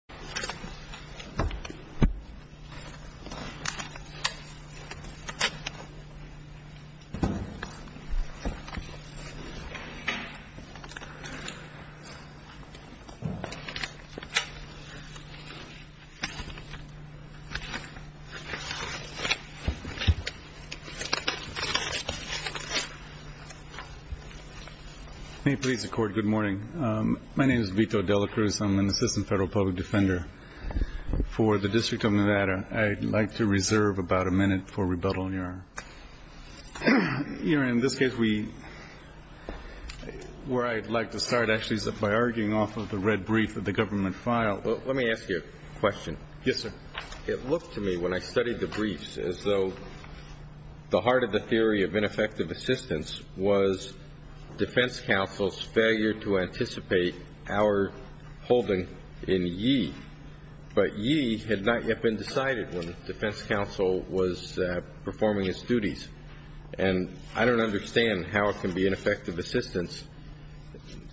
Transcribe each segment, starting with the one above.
Vito Delacruz, Assistant Federal Public Defender May it please the Court, good morning. My name is Vito Delacruz. I'm an Assistant Federal Public Defender for the District of Nevada. I'd like to reserve about a minute for rebuttal, Your Honor. Your Honor, in this case, where I'd like to start actually is by arguing off of the red brief of the government file. Let me ask you a question. Yes, sir. It looked to me when I studied the briefs as though the heart of the theory of ineffective assistance was defense counsel's failure to anticipate our holding in ye. But ye had not yet been decided when defense counsel was performing his duties. And I don't understand how it can be ineffective assistance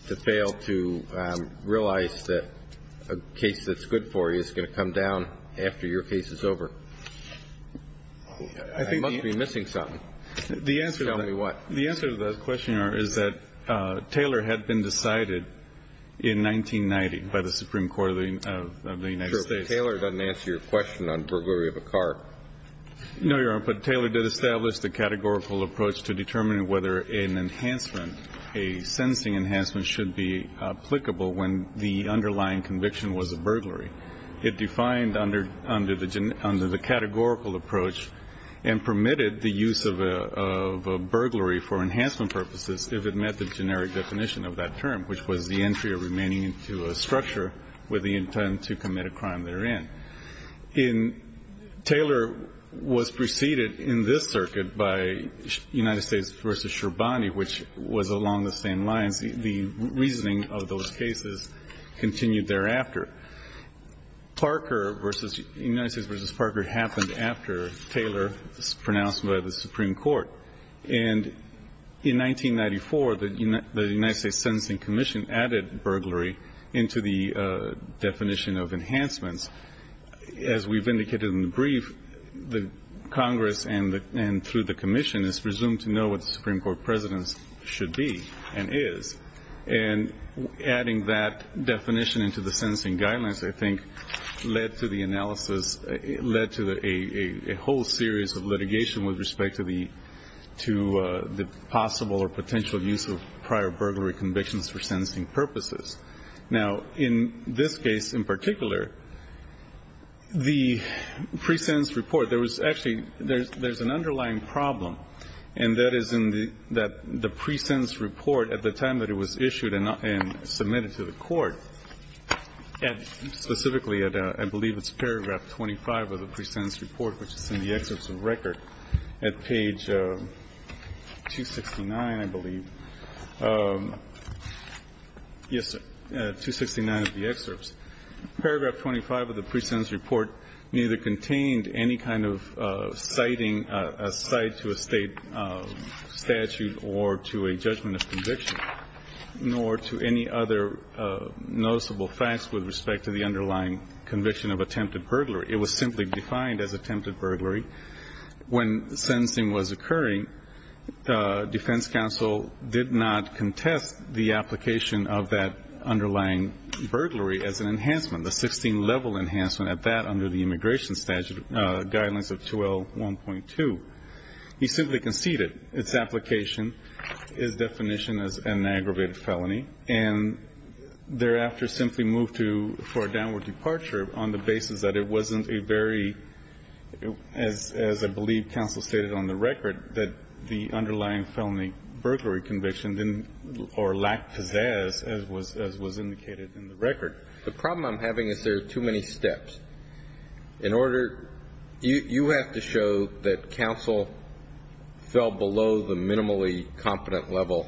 to fail to realize that a case that's good for you is going to come down after your case is over. I must be missing something. Tell me what. The answer to that question, Your Honor, is that Taylor had been decided in 1990 by the Supreme Court of the United States. Sure, but Taylor doesn't answer your question on burglary of a car. No, Your Honor, but Taylor did establish the categorical approach to determining whether an enhancement, a sentencing enhancement, should be applicable when the underlying conviction was a burglary. It defined under the categorical approach and permitted the use of a burglary for enhancement purposes if it met the generic definition of that term, which was the entry or remaining into a structure with the intent to commit a crime therein. Taylor was preceded in this circuit by United States v. Scherbani, which was along the same lines. The reasoning of those cases continued thereafter. Parker v. United States v. Parker happened after Taylor was pronounced by the Supreme Court. And in 1994, the United States Sentencing Commission added burglary into the definition of enhancements. As we've indicated in the brief, the Congress and through the commission is presumed to know what the Supreme Court presidents should be and is. And adding that definition into the sentencing guidelines, I think, led to the analysis, led to a whole series of litigation with respect to the possible or potential use of prior burglary convictions for sentencing purposes. Now, in this case in particular, the pre-sentence report, there was actually an underlying problem, and that is in the pre-sentence report at the time that it was issued and submitted to the Court, specifically I believe it's paragraph 25 of the pre-sentence report, which is in the excerpts of record at page 269, I believe. Yes, 269 of the excerpts. Paragraph 25 of the pre-sentence report neither contained any kind of citing, a cite to a state statute or to a judgment of conviction, nor to any other noticeable facts with respect to the underlying conviction of attempted burglary. It was simply defined as attempted burglary. When sentencing was occurring, defense counsel did not contest the application of that underlying burglary as an enhancement, a 16-level enhancement at that under the immigration statute, Guidelines of 2L1.2. He simply conceded its application, its definition as an aggravated felony, and thereafter simply moved to for a downward departure on the basis that it wasn't a very, as I believe counsel stated on the record, that the underlying felony burglary conviction didn't or lacked pizzazz, as was indicated in the record. The problem I'm having is there are too many steps. In order, you have to show that counsel fell below the minimally competent level,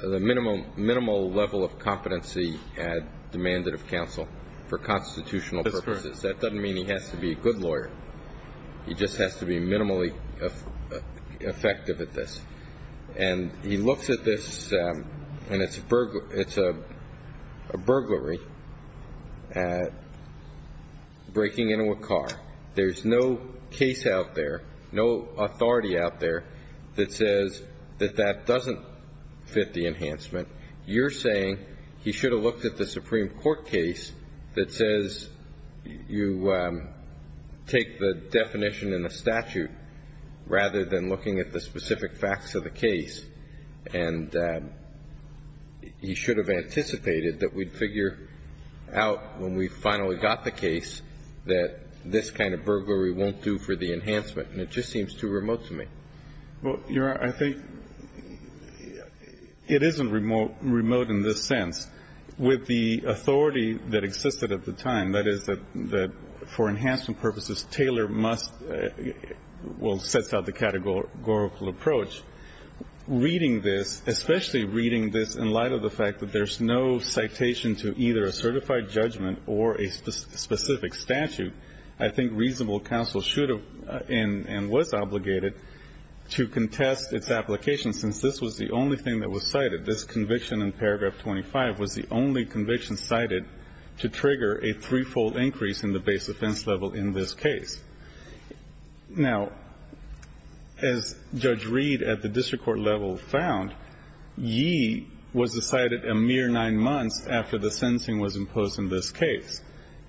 the minimal level of competency had demanded of counsel for constitutional purposes. That doesn't mean he has to be a good lawyer. He just has to be minimally effective at this. And he looks at this, and it's a burglary, breaking into a car. There's no case out there, no authority out there that says that that doesn't fit the enhancement. You're saying he should have looked at the Supreme Court case that says you take the definition in the statute rather than looking at the specific facts of the case, and he should have anticipated that we'd figure out when we finally got the case that this kind of burglary won't do for the enhancement. And it just seems too remote to me. Well, Your Honor, I think it isn't remote in this sense. With the authority that existed at the time, that is, that for enhancement purposes, Taylor must or sets out the categorical approach, reading this, especially reading this in light of the fact that there's no citation to either a certified judgment or a specific statute. I think reasonable counsel should have and was obligated to contest its application since this was the only thing that was cited. This conviction in paragraph 25 was the only conviction cited to trigger a threefold increase in the base offense level in this case. Now, as Judge Reed at the district court level found, ye was decided a mere nine months after the sentencing was imposed in this case.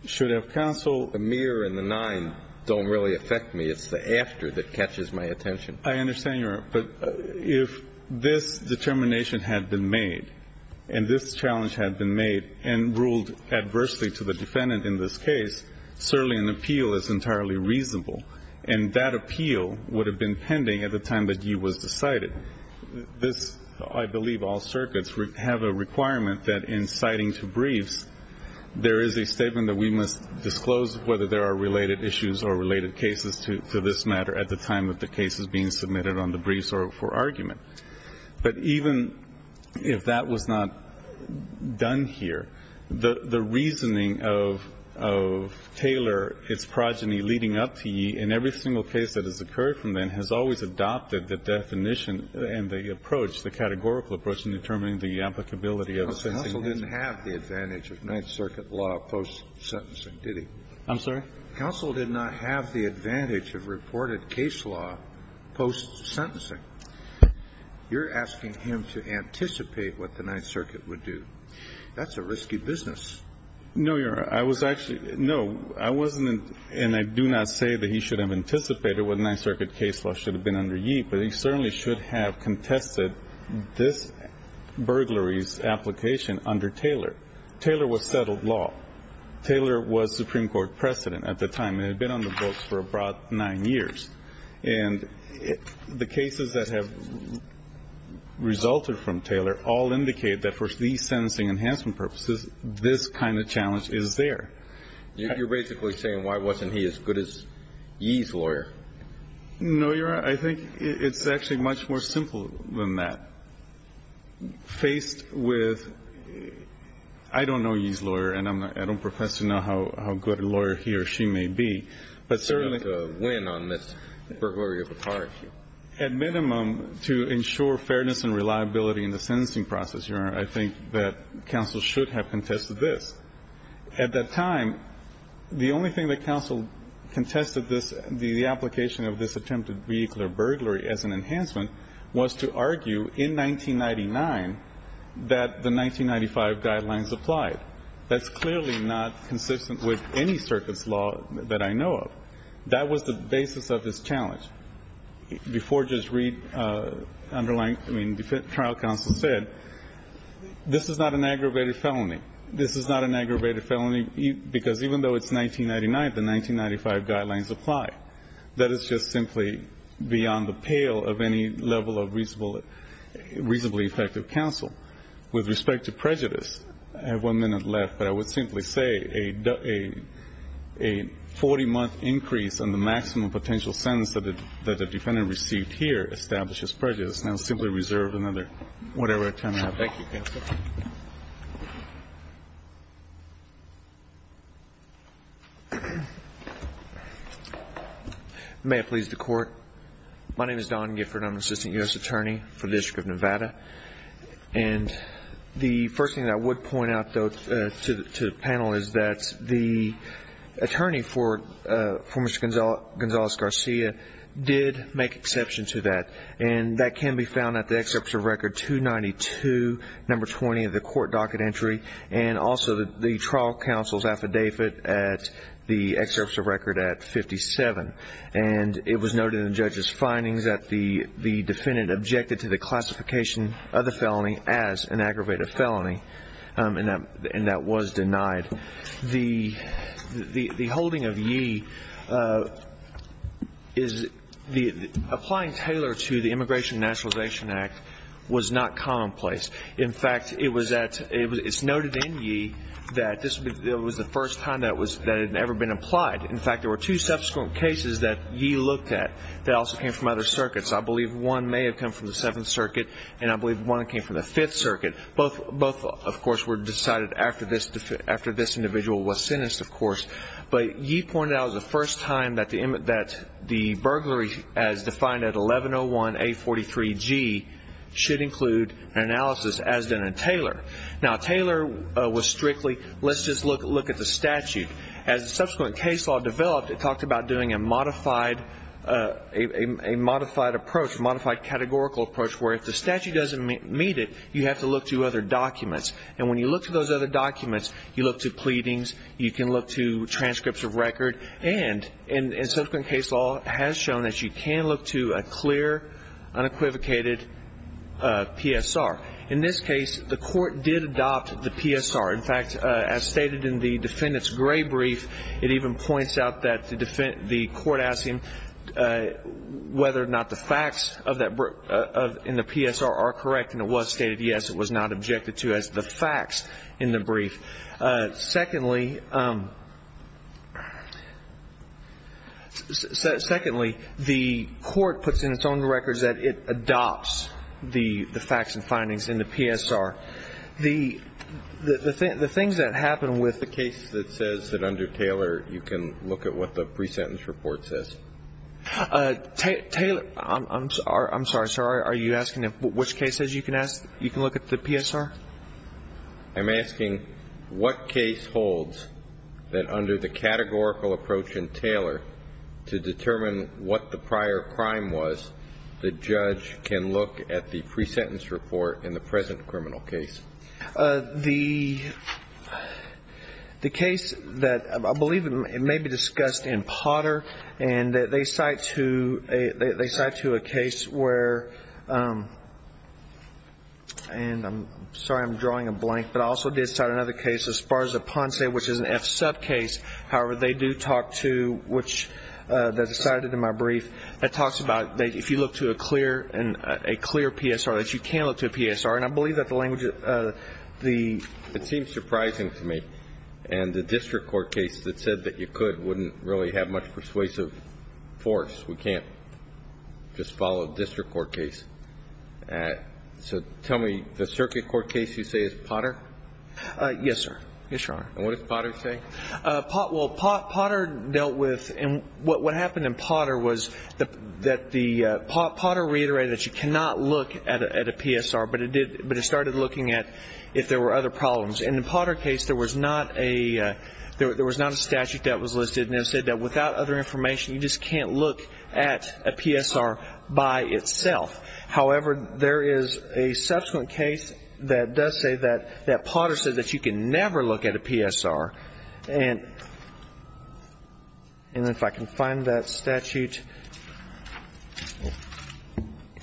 Should have counsel ---- A mere in the nine don't really affect me. It's the after that catches my attention. I understand, Your Honor. But if this determination had been made and this challenge had been made and ruled adversely to the defendant in this case, certainly an appeal is entirely reasonable, and that appeal would have been pending at the time that ye was decided. This, I believe all circuits have a requirement that in citing to briefs, there is a statement that we must disclose whether there are related issues or related cases to this matter at the time that the case is being submitted on the briefs or for argument. But even if that was not done here, the reasoning of Taylor, its progeny leading up to ye, in every single case that has occurred from then, has always adopted the definition and the approach, the categorical approach in determining the applicability of a sentencing. Counsel didn't have the advantage of Ninth Circuit law post-sentencing, did he? I'm sorry? Counsel did not have the advantage of reported case law post-sentencing. You're asking him to anticipate what the Ninth Circuit would do. That's a risky business. No, Your Honor. I was actually ---- No, I wasn't, and I do not say that he should have anticipated what Ninth Circuit case law should have been under ye, but he certainly should have contested this burglary's application under Taylor. Taylor was settled law. Taylor was Supreme Court precedent at the time and had been on the books for a broad nine years. And the cases that have resulted from Taylor all indicate that for these sentencing enhancement purposes, this kind of challenge is there. You're basically saying, why wasn't he as good as ye's lawyer? No, Your Honor. I think it's actually much more simple than that. Faced with ---- I don't know ye's lawyer, and I don't profess to know how good a lawyer he or she may be, but certainly ---- You have to win on this burglary of a car issue. At minimum, to ensure fairness and reliability in the sentencing process, Your Honor, I think that counsel should have contested this. At that time, the only thing that counsel contested this, the application of this attempted vehicular burglary as an enhancement, was to argue in 1999 that the 1995 guidelines applied. That's clearly not consistent with any circuit's law that I know of. That was the basis of this challenge. Before Judge Reed underlined ---- I mean, trial counsel said, this is not an aggravated felony. This is not an aggravated felony, because even though it's 1999, the 1995 guidelines apply. That is just simply beyond the pale of any level of reasonable ---- reasonably effective counsel. With respect to prejudice, I have one minute left, but I would simply say a 40-month increase in the maximum potential sentence that a defendant received here establishes prejudice, and I'll simply reserve another whatever time I have. Thank you, counsel. May it please the Court. My name is Don Gifford. I'm an assistant U.S. attorney for the District of Nevada. The first thing I would point out, though, to the panel is that the attorney for Mr. Gonzalez-Garcia did make exception to that, and that can be found at the excerpt of record 292, number 20 of the court docket entry, and also the trial counsel's affidavit at the excerpt of record at 57. It was noted in the judge's findings that the defendant objected to the classification of the felony as an aggravated felony, and that was denied. The holding of ye is the ---- applying Taylor to the Immigration and Nationalization Act was not commonplace. In fact, it was at ---- it's noted in ye that this was the first time that it had ever been applied. In fact, there were two subsequent cases that ye looked at that also came from other circuits. I believe one may have come from the Seventh Circuit, and I believe one came from the Fifth Circuit. Both, of course, were decided after this individual was sentenced, of course. But ye pointed out it was the first time that the burglary as defined at 1101A43G should include an analysis as done in Taylor. Now, Taylor was strictly, let's just look at the statute. As the subsequent case law developed, it talked about doing a modified approach, a modified categorical approach, where if the statute doesn't meet it, you have to look to other documents. And when you look to those other documents, you look to pleadings, you can look to transcripts of record. And subsequent case law has shown that you can look to a clear, unequivocated PSR. In this case, the court did adopt the PSR. In fact, as stated in the defendant's gray brief, it even points out that the court asked him whether or not the facts in the PSR are correct, and it was stated, yes, it was not objected to as the facts in the brief. Secondly, the court puts in its own records that it adopts the facts and findings in the PSR. The things that happen with the case that says that under Taylor, you can look at what the pre-sentence report says. I'm sorry, sir. Are you asking which cases you can look at the PSR? I'm asking what case holds that under the categorical approach in Taylor to determine what the prior crime was, the judge can look at the pre-sentence report in the present criminal case. The case that I believe may be discussed in Potter, and they cite to a case where, and I'm sorry I'm drawing a blank, but I also did cite another case, Esparza-Ponce, which is an F-sub case. However, they do talk to, which they cited in my brief, that talks about if you look to a clear PSR, that you can look to a PSR. And I believe that the language, the ---- It seems surprising to me. And the district court case that said that you could wouldn't really have much persuasive force. We can't just follow a district court case. So tell me, the circuit court case you say is Potter? Yes, sir. Yes, Your Honor. And what does Potter say? Well, Potter dealt with, and what happened in Potter was that the, Potter reiterated that you cannot look at a PSR, but it started looking at if there were other problems. In the Potter case, there was not a statute that was listed, and it said that without other information, you just can't look at a PSR by itself. However, there is a subsequent case that does say that Potter said that you can never look at a PSR, and if I can find that statute,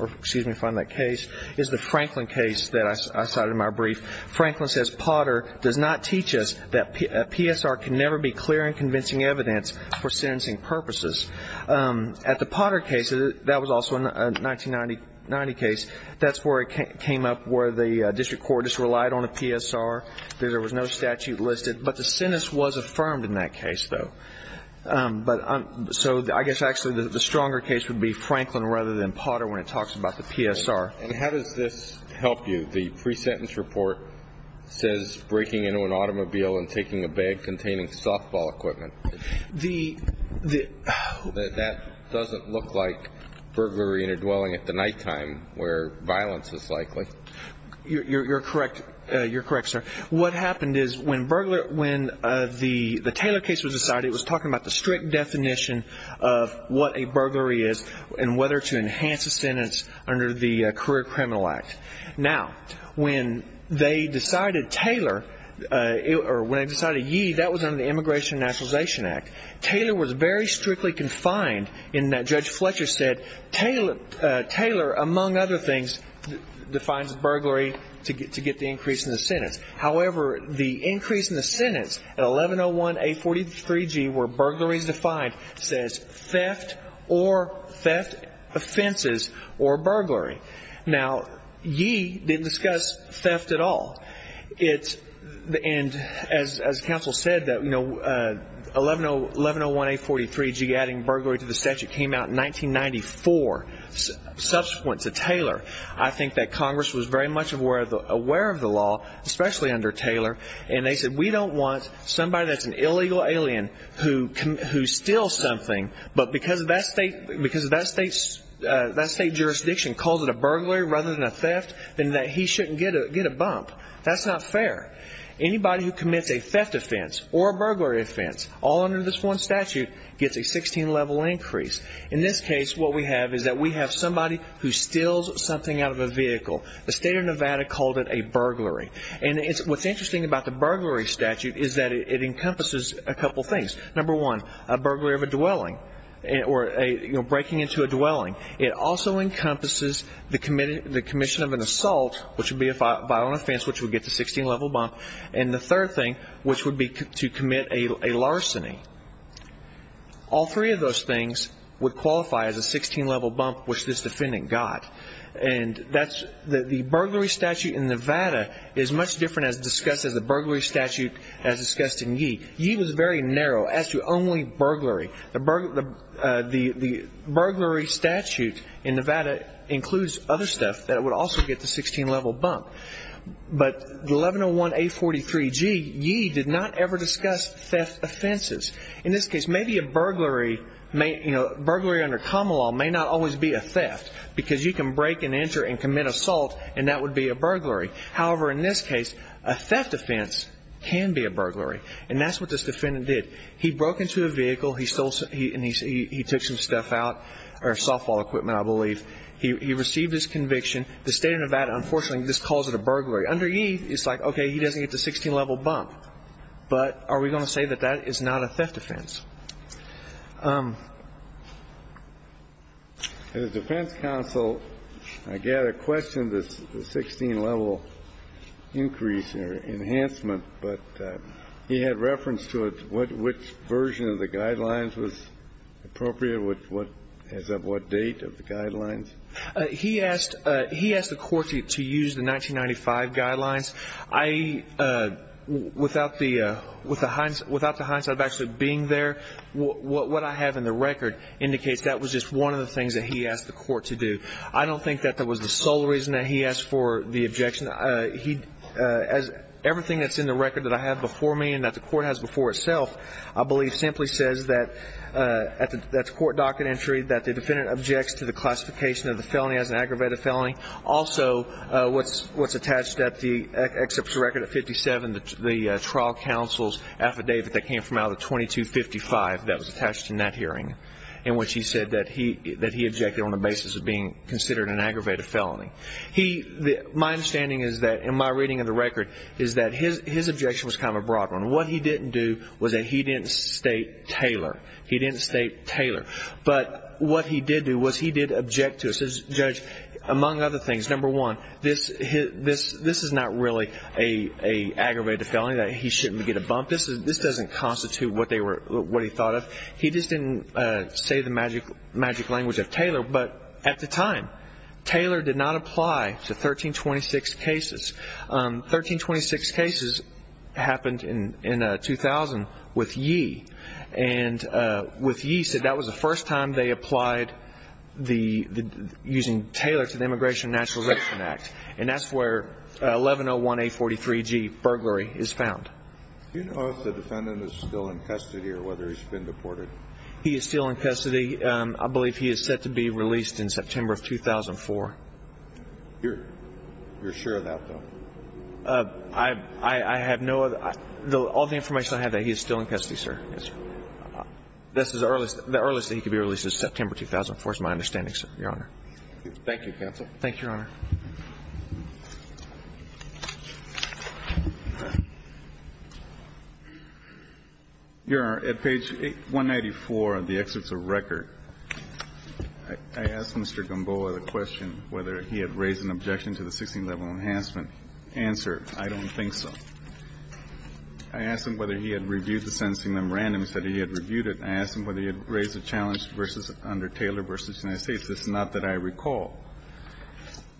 or excuse me, find that case, is the Franklin case that I cited in my brief. Franklin says Potter does not teach us that a PSR can never be clear and convincing evidence for sentencing purposes. At the Potter case, that was also a 1990 case, that's where it came up where the district court just relied on a PSR, that there was no statute listed, but the sentence was affirmed in that case, though. So I guess actually the stronger case would be Franklin rather than Potter when it talks about the PSR. And how does this help you? The pre-sentence report says breaking into an automobile and taking a bag containing softball equipment. That doesn't look like burglary in a dwelling at the nighttime where violence is likely. You're correct, sir. What happened is when the Taylor case was decided, it was talking about the strict definition of what a burglary is and whether to enhance a sentence under the Career Criminal Act. Now, when they decided yee, that was under the Immigration and Nationalization Act. Taylor was very strictly confined in that Judge Fletcher said, Taylor, among other things, defines burglary to get the increase in the sentence. However, the increase in the sentence in 1101A43G where burglary is defined says theft or theft offenses or burglary. Now, yee didn't discuss theft at all. As counsel said, 1101A43G adding burglary to the statute came out in 1994, subsequent to Taylor. I think that Congress was very much aware of the law, especially under Taylor, and they said we don't want somebody that's an illegal alien who steals something, but because that state jurisdiction calls it a burglary rather than a theft, then he shouldn't get a bump. That's not fair. Anybody who commits a theft offense or a burglary offense all under this one statute gets a 16-level increase. In this case, what we have is that we have somebody who steals something out of a vehicle. The state of Nevada called it a burglary. And what's interesting about the burglary statute is that it encompasses a couple things. Number one, a burglary of a dwelling or breaking into a dwelling. It also encompasses the commission of an assault, which would be a violent offense, which would get the 16-level bump. And the third thing, which would be to commit a larceny. All three of those things would qualify as a 16-level bump, which this defendant got. And the burglary statute in Nevada is much different as discussed as the burglary statute as discussed in yee. Yee was very narrow as to only burglary. The burglary statute in Nevada includes other stuff that would also get the 16-level bump. But the 1101A43G, yee did not ever discuss theft offenses. In this case, maybe a burglary under common law may not always be a theft because you can break and enter and commit assault, and that would be a burglary. However, in this case, a theft offense can be a burglary. And that's what this defendant did. He broke into a vehicle and he took some stuff out, or softball equipment, I believe. He received his conviction. The state of Nevada, unfortunately, just calls it a burglary. Under yee, it's like, okay, he doesn't get the 16-level bump, but are we going to say that that is not a theft offense? The defense counsel, I gather, questioned the 16-level increase or enhancement, but he had reference to which version of the guidelines was appropriate, as of what date of the guidelines. He asked the court to use the 1995 guidelines. Without the hindsight of actually being there, what I have in the record indicates that was just one of the things that he asked the court to do. I don't think that that was the sole reason that he asked for the objection. Everything that's in the record that I have before me, and that the court has before itself, I believe simply says that, at the court docket entry, that the defendant objects to the classification of the felony as an aggravated felony. Also, what's attached, except for the record at 57, the trial counsel's affidavit that came from out of the 2255 that was attached to that hearing, in which he said that he objected on the basis of being considered an aggravated felony. My understanding is that, in my reading of the record, is that his objection was kind of a broad one. What he didn't do was that he didn't state Taylor. He didn't state Taylor. But what he did do was he did object to it. He says, Judge, among other things, number one, this is not really an aggravated felony, that he shouldn't get a bump. This doesn't constitute what he thought of. He just didn't say the magic language of Taylor. But at the time, Taylor did not apply to 1326 cases. 1326 cases happened in 2000 with Yee. And with Yee, he said that was the first time they applied using Taylor to the Immigration and Naturalization Act. And that's where 1101A43G, burglary, is found. Do you know if the defendant is still in custody or whether he's been deported? He is still in custody. I believe he is set to be released in September of 2004. You're sure of that, though? I have no other ñ all the information I have, he is still in custody, sir. Yes, sir. The earliest that he could be released is September 2004 is my understanding, sir, Your Honor. Thank you, counsel. Thank you, Your Honor. Your Honor, at page 194 of the excerpts of record, I asked Mr. Gamboa the question whether he had raised an objection to the 16th level enhancement. Answer, I don't think so. I asked him whether he had reviewed the sentencing memorandum. He said he had reviewed it. I asked him whether he had raised a challenge under Taylor v. United States. It's not that I recall.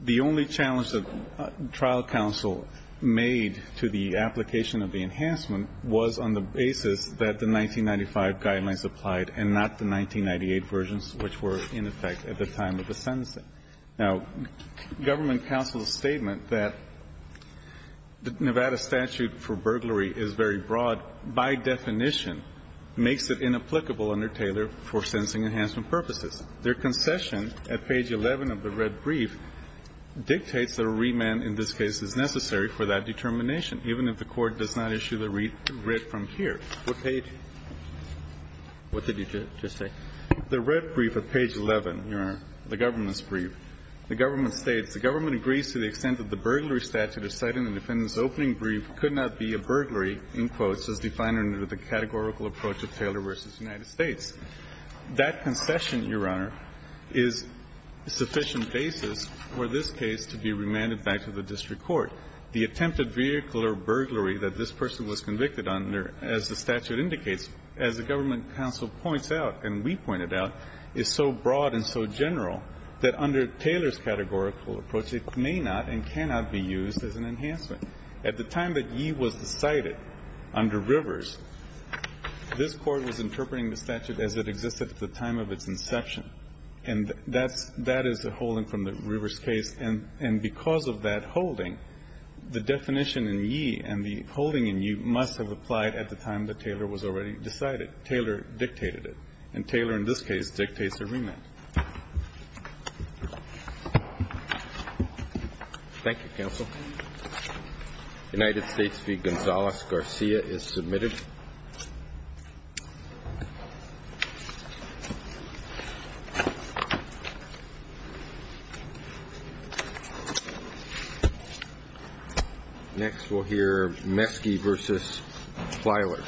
The only challenge that trial counsel made to the application of the enhancement was on the basis that the 1995 guidelines applied and not the 1998 versions, which were in effect at the time of the sentencing. Now, government counsel's statement that the Nevada statute for burglary is very broad by definition makes it inapplicable under Taylor for sentencing enhancement purposes. Their concession at page 11 of the red brief dictates that a remand in this case is necessary for that determination, even if the Court does not issue the writ from here. What page? What did you just say? The red brief at page 11, Your Honor, the government's brief. The government states, The government agrees to the extent that the burglary statute as cited in the defendant's opening brief could not be a burglary, in quotes, as defined under the categorical approach of Taylor v. United States. That concession, Your Honor, is sufficient basis for this case to be remanded back to the district court. The attempted vehicular burglary that this person was convicted under, as the statute indicates, as the government counsel points out and we pointed out, is so broad and so general that under Taylor's categorical approach it may not and cannot be used as an enhancement. At the time that Yee was decided under Rivers, this Court was interpreting the statute as it existed at the time of its inception. And that's the holding from the Rivers case. And because of that holding, the definition in Yee and the holding in Yee must have applied at the time that Taylor was already decided. Taylor dictated it. And Taylor in this case dictates a remand. Thank you, counsel. United States v. Gonzales-Garcia is submitted. Next we'll hear Meske v. Filer.